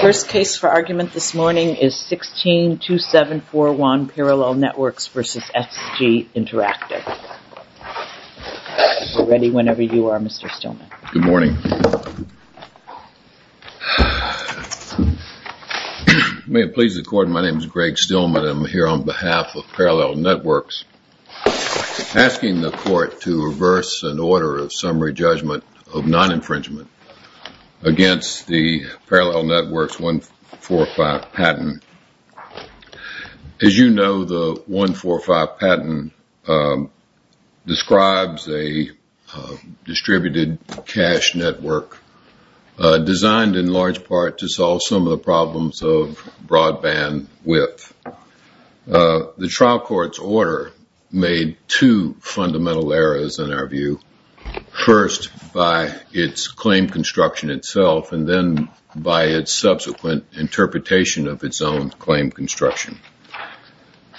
First case for argument this morning is 162741 Parallel Networks v. SG Interactive. Ready whenever you are, Mr. Stillman. Good morning. May it please the court, my name is Greg Stillman. I'm here on behalf of Parallel Networks asking the court to reverse an order of summary judgment of non-infringement against the Parallel Networks 145 patent. As you know, the 145 patent describes a distributed cash network designed in large part to solve some of the problems of broadband width. The trial court's made two fundamental errors in our view. First, by its claim construction itself and then by its subsequent interpretation of its own claim construction.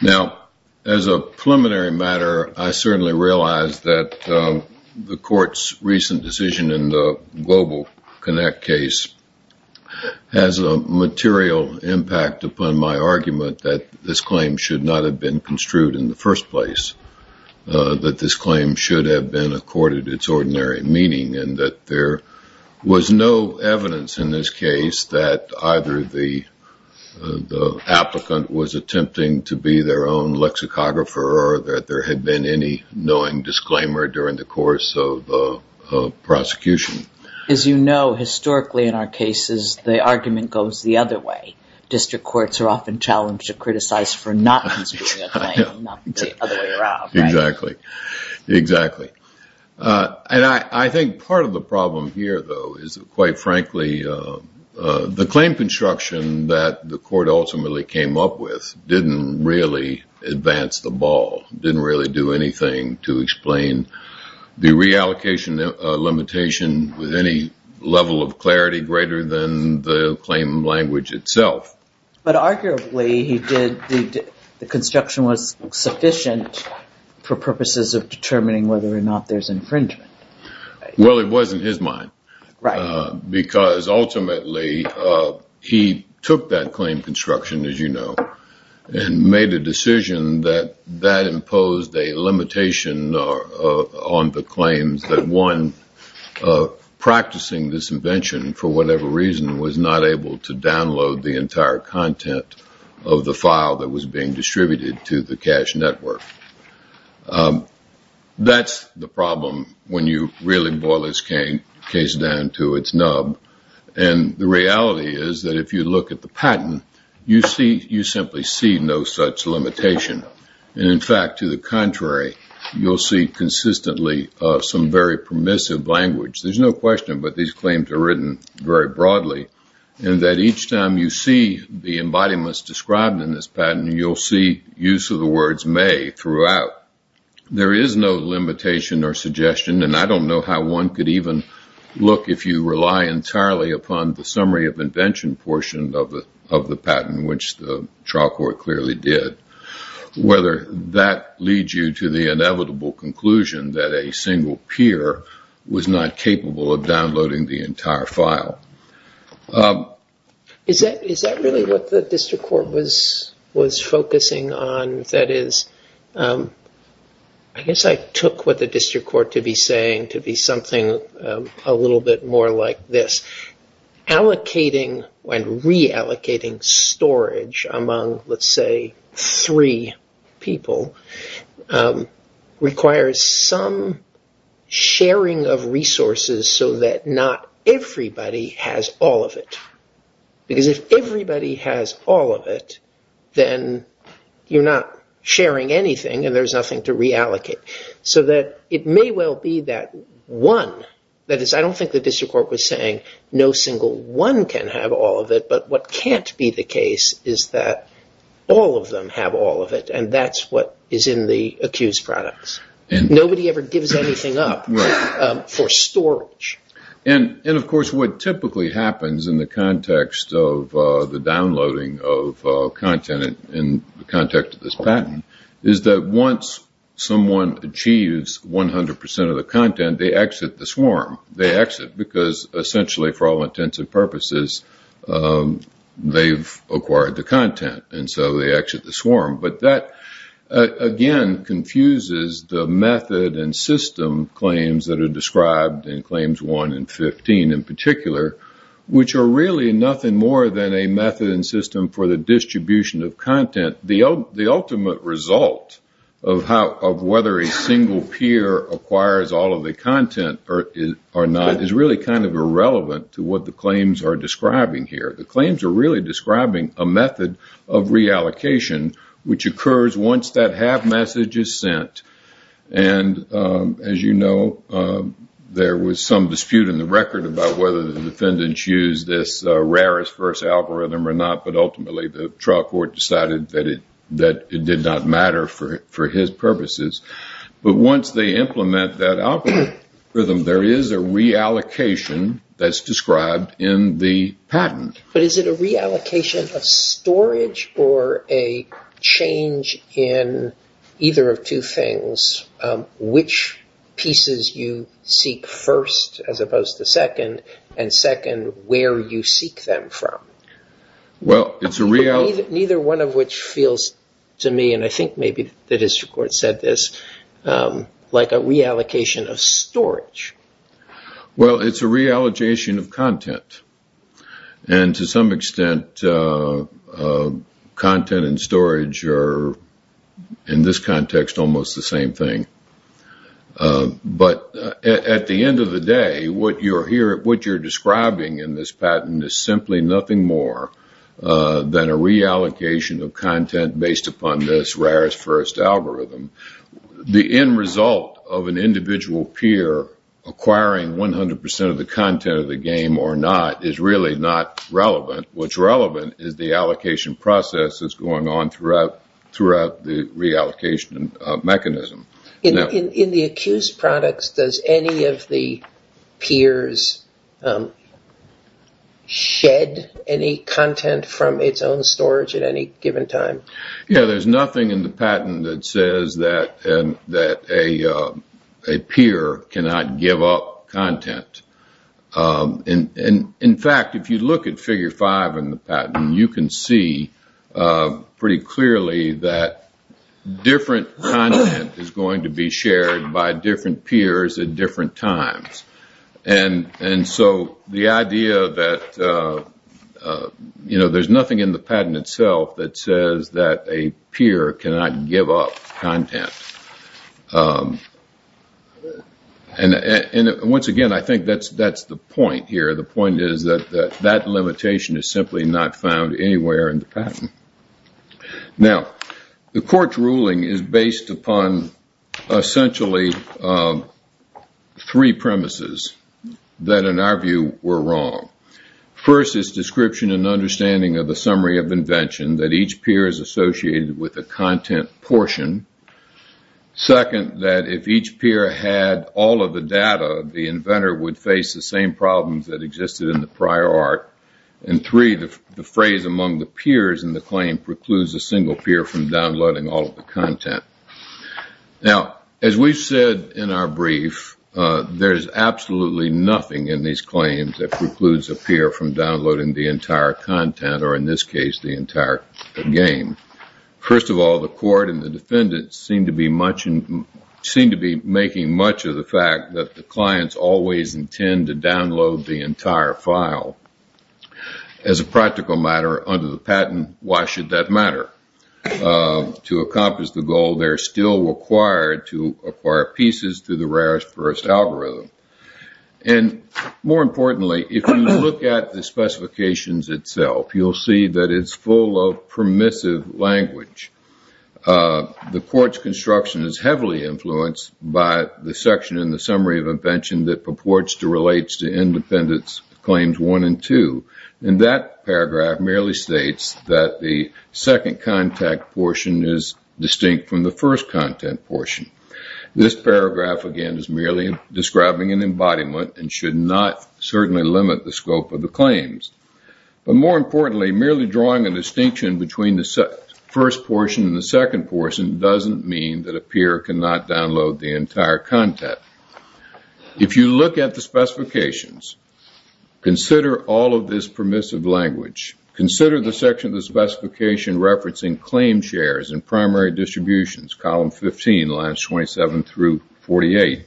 Now, as a preliminary matter, I certainly realize that the court's recent decision in the Global Connect case has a material impact upon my claim should have been accorded its ordinary meaning and that there was no evidence in this case that either the applicant was attempting to be their own lexicographer or that there had been any knowing disclaimer during the course of prosecution. As you know, historically in our cases, the argument goes the other way. District courts are often challenged to criticize for not considering a claim. Exactly. And I think part of the problem here, though, is quite frankly the claim construction that the court ultimately came up with didn't really advance the ball, didn't really do anything to explain the But arguably he did. The construction was sufficient for purposes of determining whether or not there's infringement. Well, it was in his mind, right? Because ultimately he took that claim construction, as you know, and made a decision that that imposed a limitation on the claims that one practicing this invention for whatever reason was not able to download the entire content of the file that was being distributed to the cash network. That's the problem when you really boil this case down to its nub. And the reality is that if you look at the patent, you see you simply see no such limitation. And in fact, to the contrary, you'll see consistently some very permissive language. There's no question, but these claims are written very broadly and that each time you see the embodiments described in this patent, you'll see use of the words may throughout. There is no limitation or suggestion. And I don't know how one could even look if you rely entirely upon the summary of invention portion of the of the patent, which the trial court clearly did, whether that leads you to the inevitable conclusion that a the entire file. Is that really what the district court was focusing on? That is, I guess I took what the district court to be saying to be something a little bit more like this. Allocating when reallocating storage among, let's say, three people requires some sharing of resources so that not everybody has all of it, because if everybody has all of it, then you're not sharing anything and there's nothing to reallocate so that it may well be that one. That is, I don't think the district court was saying no single one can have all of it. But what can't be the case is that all of them have all of it. And that's what is in the accused products. And nobody ever gives anything up for storage. And of course, what typically happens in the context of the downloading of content in the context of this patent is that once someone achieves 100 percent of the content, they exit the swarm. They exit because essentially for all intents and purposes, they've acquired the content and so they exit the swarm. But that, again, confuses the method and system claims that are described in Claims 1 and 15 in particular, which are really nothing more than a method and system for the distribution of content. The ultimate result of whether a single peer acquires all of the content or not is really kind of irrelevant to what the claims are describing here. The claims are really describing a method of reallocation, which occurs once that have message is sent. And as you know, there was some dispute in the record about whether the defendants use this rarest first algorithm or not. But ultimately, the trial court decided that it did not matter for his purposes. But once they implement that algorithm, there is a reallocation that's described in the patent. But is it a reallocation of storage or a change in either of two things? Which pieces you seek first as opposed to second, and second, where you seek them from? Neither one of which feels to me, and I think maybe the district court said this, like a reallocation of storage. Well, it's a reallocation of content. And to some extent, content and storage are, in this context, almost the same thing. But at the end of the day, what you're describing in this patent is simply nothing more than a reallocation of content based upon this rarest first algorithm. The end result of an individual peer acquiring 100% of the content of the game or not is really not relevant. What's relevant is the allocation process that's going on throughout the reallocation mechanism. In the accused products, does any of the peers shed any content from its own storage at any given time? Yeah, there's nothing in the patent that says that a peer cannot give up content. In fact, if you look at figure five in the patent, you can see pretty clearly that different content is going to be shared by different peers at different times. And so the idea that there's nothing in the patent itself that says that a peer cannot give up content. And once again, I think that's the point here. The point is that that limitation is simply not found anywhere in the patent. Now, the court's ruling is based upon essentially three premises that, in our view, were wrong. First is description and understanding of the summary of invention that each peer is associated with a content portion. Second, that if each peer had all of the data, the inventor would face the same problems that existed in the prior art. And three, the phrase among the peers in the claim precludes a single peer from downloading all of the content. Now, as we've said in our brief, there's absolutely nothing in these claims that precludes a peer from downloading the entire content or, in this case, the entire game. First of all, the court and the defendants seem to be making much of the fact that the clients always intend to download the entire file. As a practical matter, under the patent, why should that matter? To accomplish the goal, they're still required to acquire pieces through the rarest first algorithm. And more importantly, if you look at the specifications itself, you'll see that it's full of permissive language. The court's construction is heavily influenced by the section in the summary of invention that purports to relate to independence claims one and two. And that paragraph merely states that the second contact portion is distinct from the first content portion. This paragraph, again, is merely describing an embodiment and should not certainly limit the scope of the claims. But more importantly, merely drawing a distinction between the first portion and the second portion doesn't mean that a peer cannot download the entire content. If you look at the specifications, consider all of this permissive language. Consider the section of the specification referencing claim shares and primary distributions, column 15, lines 27 through 48.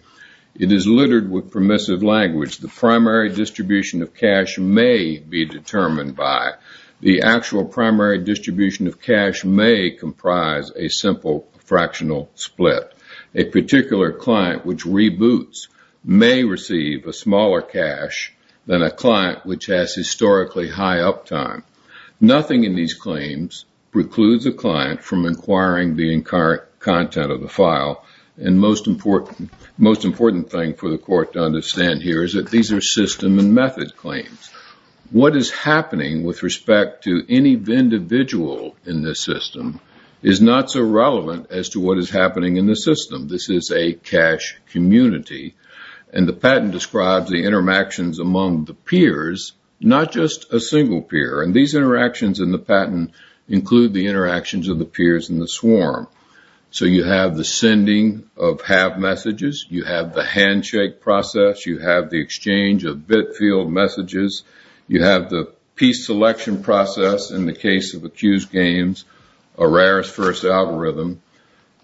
It is littered with permissive language. The primary distribution of cash may be determined by the actual primary distribution of cash may comprise a simple fractional split. A particular client which reboots may receive a smaller cash than a client which has historically high uptime. Nothing in these claims precludes a client from inquiring the current content of the file. And most important thing for the court to understand here is that these are system and method claims. What is happening with respect to any individual in this system is not so relevant as to what is happening in the system. This is a cash community. And the patent describes the interactions among the peers, not just a single peer. And these interactions in the patent include the interactions of the peers in the swarm. So you have the sending of have messages. You have the handshake process. You have the exchange of bit field messages. You have the piece selection process in the case of accused games, a rarest first algorithm.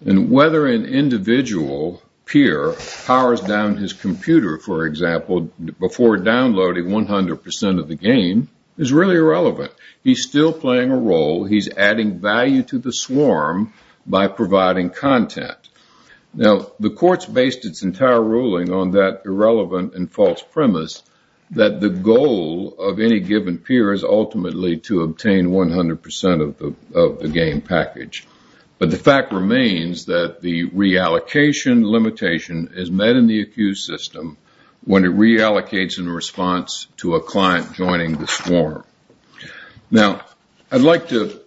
And whether an individual peer powers down his computer, for example, before downloading 100% of the game is really irrelevant. He's still playing a role. He's adding value to the swarm by providing content. Now, the court's based its entire ruling on that irrelevant and false premise that the goal of any given peer is ultimately to obtain 100% of the game package. But the fact remains that the reallocation limitation is met in the accused system when it reallocates in response to a client joining the swarm. Now, I'd like to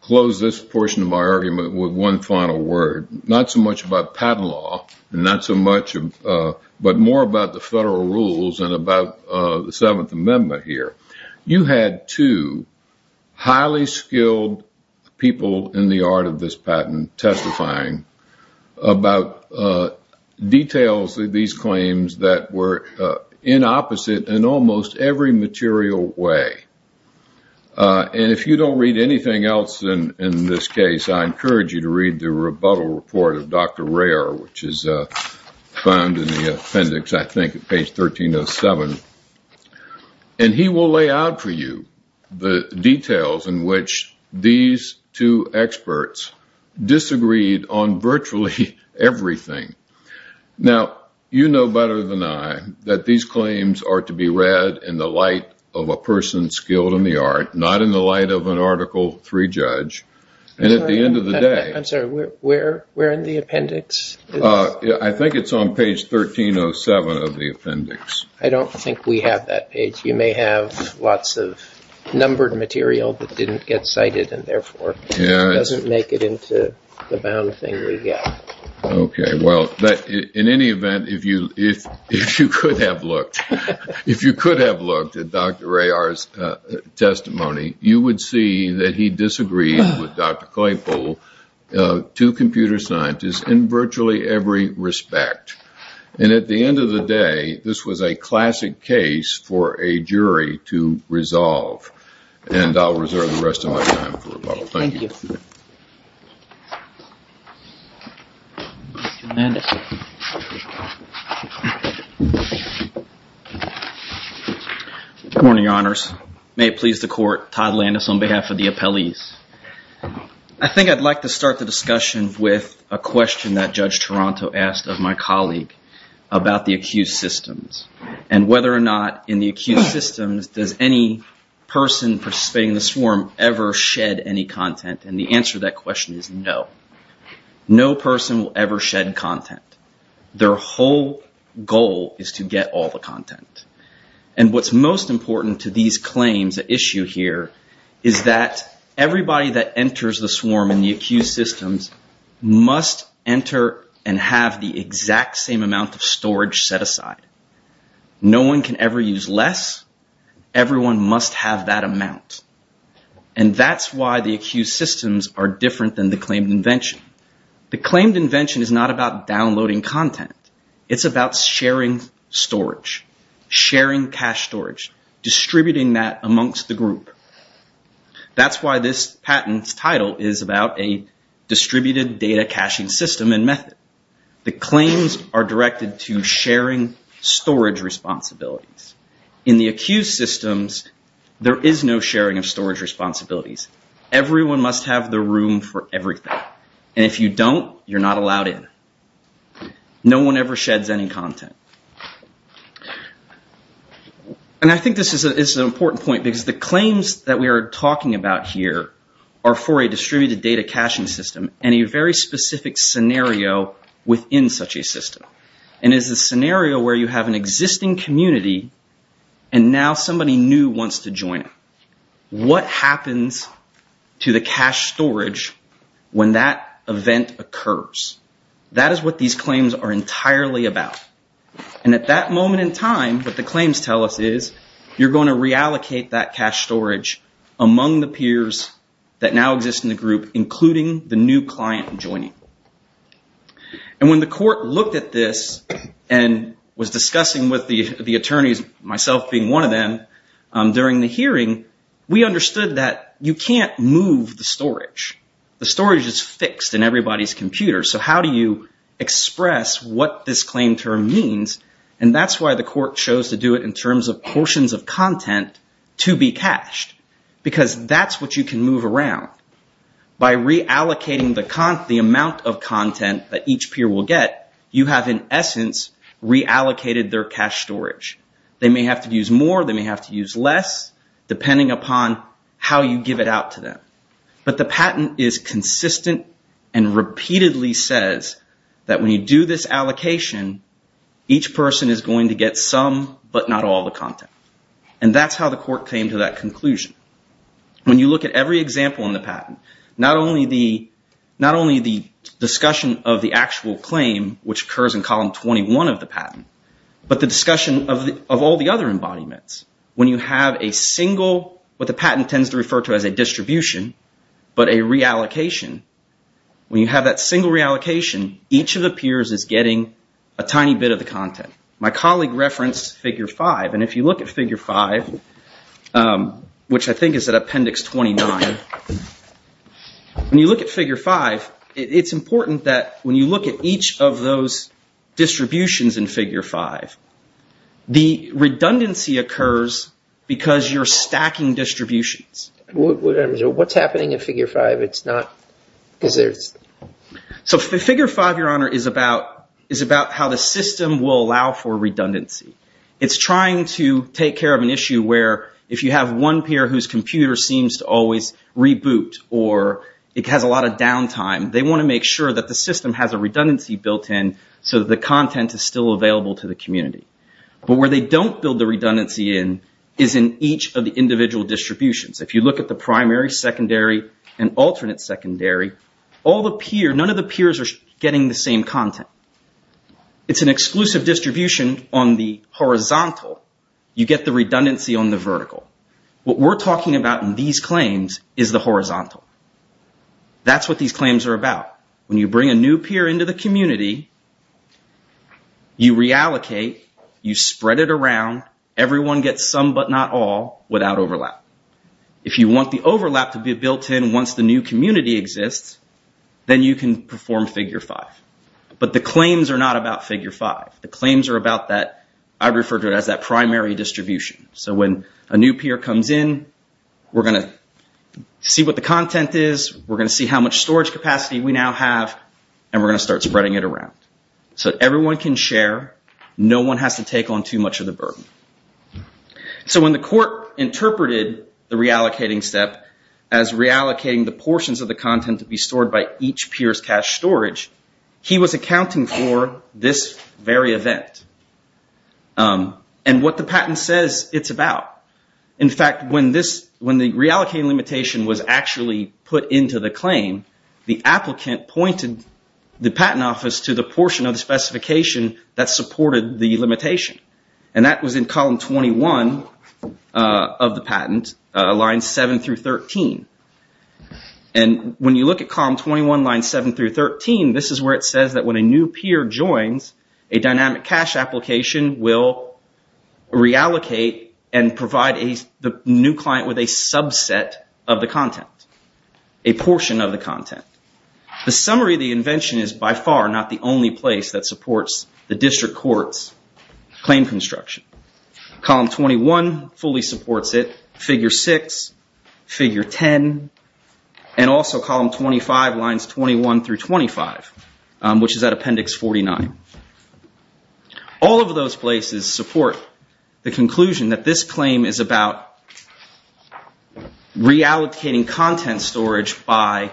close this portion of my argument with one final word. Not so much about patent law, but more about the federal rules and about the Seventh Amendment here. You had two highly skilled people in the art of this patent testifying about details of these claims that were in opposite in almost every material way. And if you don't read anything else in this case, I encourage you to read the rebuttal report of Dr. Rare, which is found in the appendix, I think, at page 1307. And he will lay out for you the details in which these two experts disagreed on virtually everything. Now, you know better than I that these claims are to be read in the light of a person skilled in the art, not in the light of an Article III judge. And at the end of the day... I'm sorry, where in the appendix is... I think it's on page 1307 of the appendix. I don't think we have that page. You may have lots of numbered material that didn't get cited and therefore doesn't make it into the bound thing we get. Okay. Well, in any event, if you could have looked at Dr. Rare's testimony, you would see that he disagreed with Dr. Claypool, two computer scientists, in virtually every respect. And at the end of the day, this was a classic case for a jury to resolve. And I'll reserve the rest of my time for rebuttal. Thank you. Thank you. Mr. Landis. Good morning, Your Honors. May it please the Court, Todd Landis on behalf of the appellees. I think I'd like to start the discussion with a question that Judge Toronto asked of my colleague about the accused systems. And whether or not in the accused systems, does any person participating in the swarm ever shed any content? And the answer to that question is no. No person will ever shed content. And what's most important to these claims at issue here is that everybody that enters the swarm in the accused systems must enter and have the exact same amount of storage set aside. No one can ever use less. Everyone must have that amount. And that's why the accused systems are different than the claimed invention. The claimed invention is not about downloading content. It's about sharing storage. Sharing cache storage. Distributing that amongst the group. That's why this patent's title is about a distributed data caching system and method. The claims are directed to sharing storage responsibilities. In the accused systems, there is no sharing of storage responsibilities. Everyone must have the room for everything. And if you don't, you're not allowed in. No one ever sheds any content. And I think this is an important point because the claims that we are talking about here are for a distributed data caching system and a very specific scenario within such a system. And it's a scenario where you have an existing community and now somebody new wants to join it. What happens to the cache storage when that event occurs? That is what these claims are entirely about. And at that moment in time, what the claims tell us is you're going to reallocate that cache storage among the peers that now exist in the group, including the new client joining. And when the court looked at this and was discussing with the attorneys, myself being one of them, during the hearing, we understood that you can't move the storage. The storage is fixed in everybody's computer. So how do you express what this claim term means? And that's why the court chose to do it in terms of portions of content to be cached. Because that's what you can move around. By reallocating the amount of content that each peer will get, you have, in essence, reallocated their cache storage. They may have to use more, they may have to use less, depending upon how you give it out to them. But the patent is consistent and repeatedly says that when you do this allocation, each person is going to get some but not all the content. And that's how the court came to that conclusion. When you look at every example in the patent, not only the discussion of the actual claim, which occurs in column 21 of the patent, but the discussion of all the other embodiments. When you have a single, what the patent tends to refer to as a distribution, but a reallocation, when you have that single reallocation, each of the peers is getting a tiny bit of the content. My colleague referenced figure 5. And if you look at figure 5, which I think is at appendix 29, when you look at figure 5, it's important that when you look at each of those distributions in figure 5, the redundancy occurs because you're stacking distributions. What's happening in figure 5? Figure 5, Your Honor, is about how the system will allow for redundancy. It's trying to take care of an issue where if you have one peer whose computer seems to always reboot or it has a lot of downtime, they want to make sure that the system has a redundancy built in so that the content is still available to the community. But where they don't build the redundancy in is in each of the individual distributions. If you look at the primary, secondary, and alternate secondary, none of the peers are getting the same content. It's an exclusive distribution on the horizontal. You get the redundancy on the vertical. What we're talking about in these claims is the horizontal. That's what these claims are about. When you bring a new peer into the community, you reallocate, you spread it around, everyone gets some but not all without overlap. If you want the overlap to be built in once the new community exists, then you can perform figure 5. But the claims are not about figure 5. The claims are about that, I refer to it as that primary distribution. When a new peer comes in, we're going to see what the content is, we're going to see how much storage capacity we now have, and we're going to start spreading it around. Everyone can share. No one has to take on too much of the burden. When the court interpreted the reallocating step as reallocating the portions of the content to be stored by each peer's cache storage, he was accounting for this very event. What the patent says it's about. In fact, when the reallocating limitation was actually put into the claim, the applicant pointed the patent office to the portion of the specification that supported the limitation. That was in column 21 of the patent, lines 7 through 13. When you look at column 21, lines 7 through 13, this is where it says that when a new peer joins, a dynamic cache application will reallocate and provide the new client with a subset of the content, a portion of the content. The summary of the invention is by far not the only place that supports the district court's claim construction. Column 21 fully supports it, figure 6, figure 10, and also column 25, lines 21 through 25, which is at appendix 49. All of those places support the conclusion that this claim is about reallocating content storage by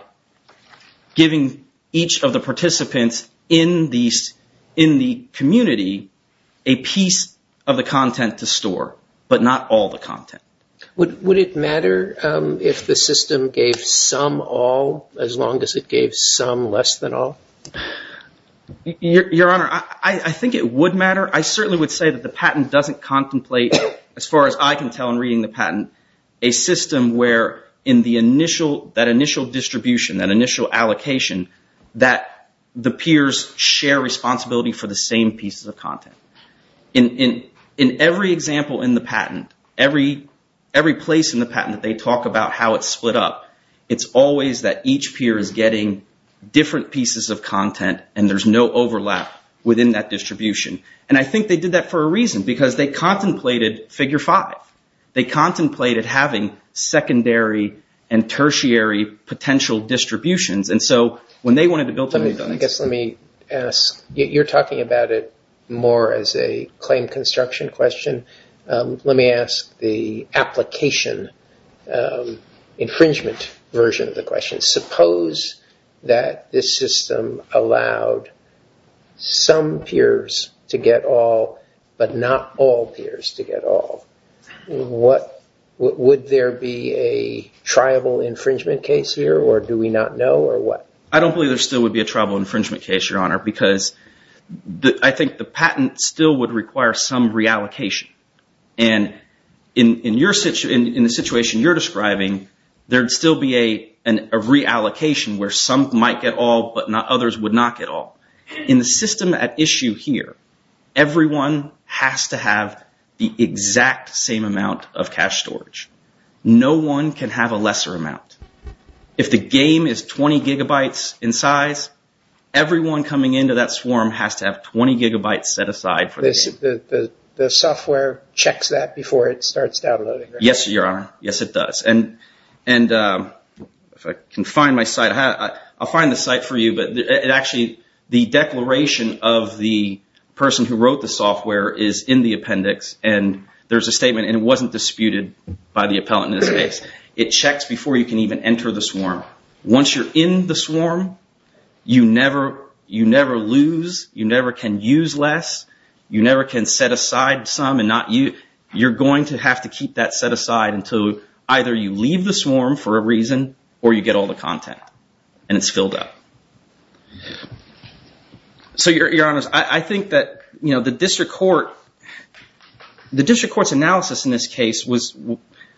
giving each of the participants in the community a piece of the content to store, but not all the content. Would it matter if the system gave some all as long as it gave some less than all? Your Honor, I think it would matter. I certainly would say that the patent doesn't contemplate, as far as I can tell in reading the patent, a system where in that initial distribution, that initial allocation, that the peers share responsibility for the same pieces of content. In every example in the patent, every place in the patent that they talk about how it's split up, it's always that each peer is getting different pieces of content and there's no overlap within that distribution. I think they did that for a reason, because they contemplated figure 5. They contemplated having secondary and tertiary potential distributions. You're talking about it more as a claim construction question. Let me ask the application infringement version of the question. Suppose that this system allowed some peers to get all, but not all peers to get all. Would there be a tribal infringement case here, or do we not know, or what? I don't believe there still would be a tribal infringement case, Your Honor, because I think the patent still would require some reallocation. In the situation you're describing, there'd still be a reallocation where some might get all, but others would not get all. In the system at issue here, everyone has to have the exact same amount of cache storage. No one can have a lesser amount. If the game is 20 gigabytes in size, everyone coming into that swarm has to have 20 gigabytes set aside for the game. The software checks that before it starts downloading, right? Yes, Your Honor. Yes, it does. If I can find my site, I'll find the site for you. Actually, the declaration of the person who wrote the software is in the appendix. There's a statement, and it wasn't disputed by the appellant in this case. It checks before you can even enter the swarm. Once you're in the swarm, you never lose. You never can use less. You never can set aside some. You're going to have to keep that set aside until either you leave the swarm for a reason or you get all the content, and it's filled up. Your Honor, I think that the district court's analysis in this case was,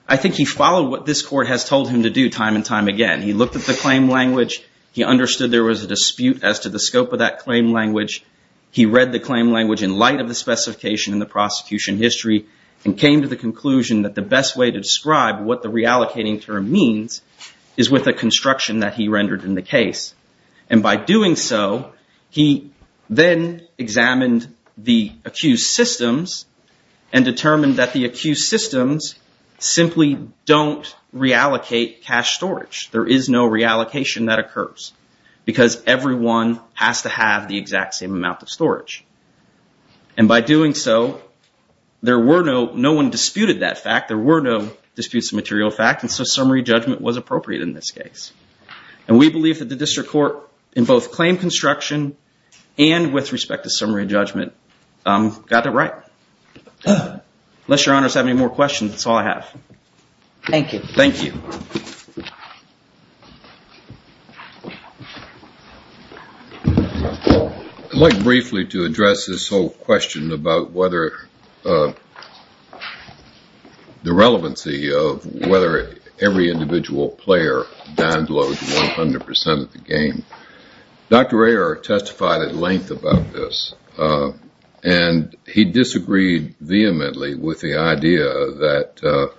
I think he followed what this court has told him to do time and time again. He looked at the claim language. He understood there was a dispute as to the scope of that claim language. He read the claim language in light of the specification in the prosecution history and came to the conclusion that the best way to describe what the reallocating term means is with the construction that he rendered in the case. And by doing so, he then examined the accused systems and determined that the accused systems simply don't reallocate cash storage. There is no reallocation that occurs because everyone has to have the exact same amount of storage. And by doing so, no one disputed that fact. There were no disputes of material fact, and so summary judgment was appropriate in this case. And we believe that the district court, in both claim construction and with respect to summary judgment, got that right. Unless Your Honor has any more questions, that's all I have. Thank you. Thank you. I'd like briefly to address this whole question about whether the relevancy of whether every individual player downloads 100% of the game. Dr. Ayer testified at length about this, and he disagreed vehemently with the idea that,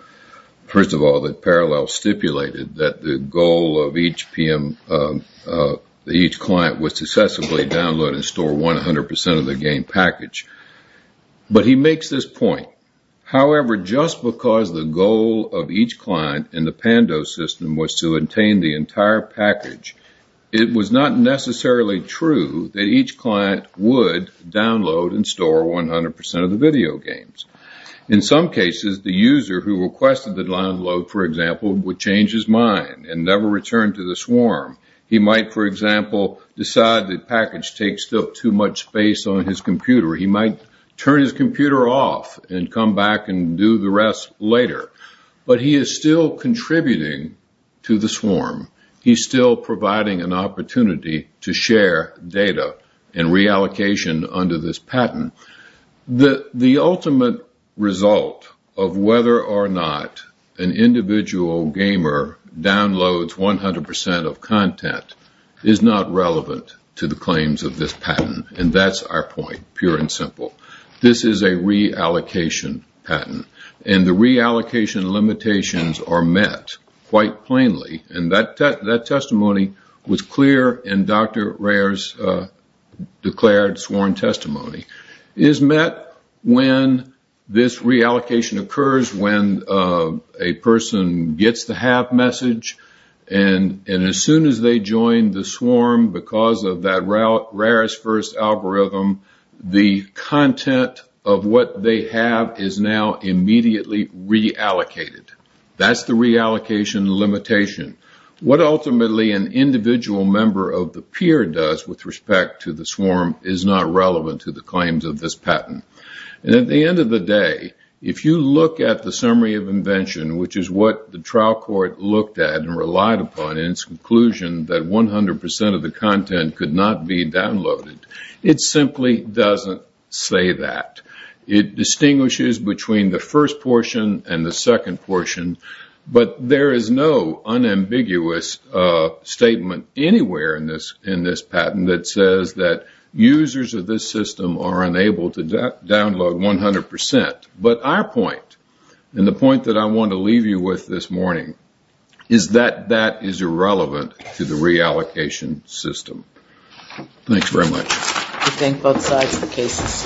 first of all, that Parallel stipulated that the goal of each client was to successfully download and store 100% of the game package. But he makes this point. However, just because the goal of each client in the Pando system was to obtain the entire package, it was not necessarily true that each client would download and store 100% of the video games. In some cases, the user who requested the download, for example, would change his mind and never return to the swarm. He might, for example, decide the package takes up too much space on his computer. He might turn his computer off and come back and do the rest later. But he is still contributing to the swarm. He's still providing an opportunity to share data and reallocation under this patent. The ultimate result of whether or not an individual gamer downloads 100% of content is not relevant to the claims of this patent, and that's our point, pure and simple. This is a reallocation patent, and the reallocation limitations are met quite plainly. That testimony was clear in Dr. Rare's declared sworn testimony. It is met when this reallocation occurs, when a person gets the have message, and as soon as they join the swarm because of that Rare's first algorithm, the content of what they have is now immediately reallocated. That's the reallocation limitation. What ultimately an individual member of the peer does with respect to the swarm is not relevant to the claims of this patent. At the end of the day, if you look at the summary of invention, which is what the trial court looked at and relied upon in its conclusion that 100% of the content could not be downloaded, it simply doesn't say that. It distinguishes between the first portion and the second portion, but there is no unambiguous statement anywhere in this patent that says that users of this system are unable to download 100%. But our point, and the point that I want to leave you with this morning, is that that is irrelevant to the reallocation system. Thanks very much. I thank both sides of the case.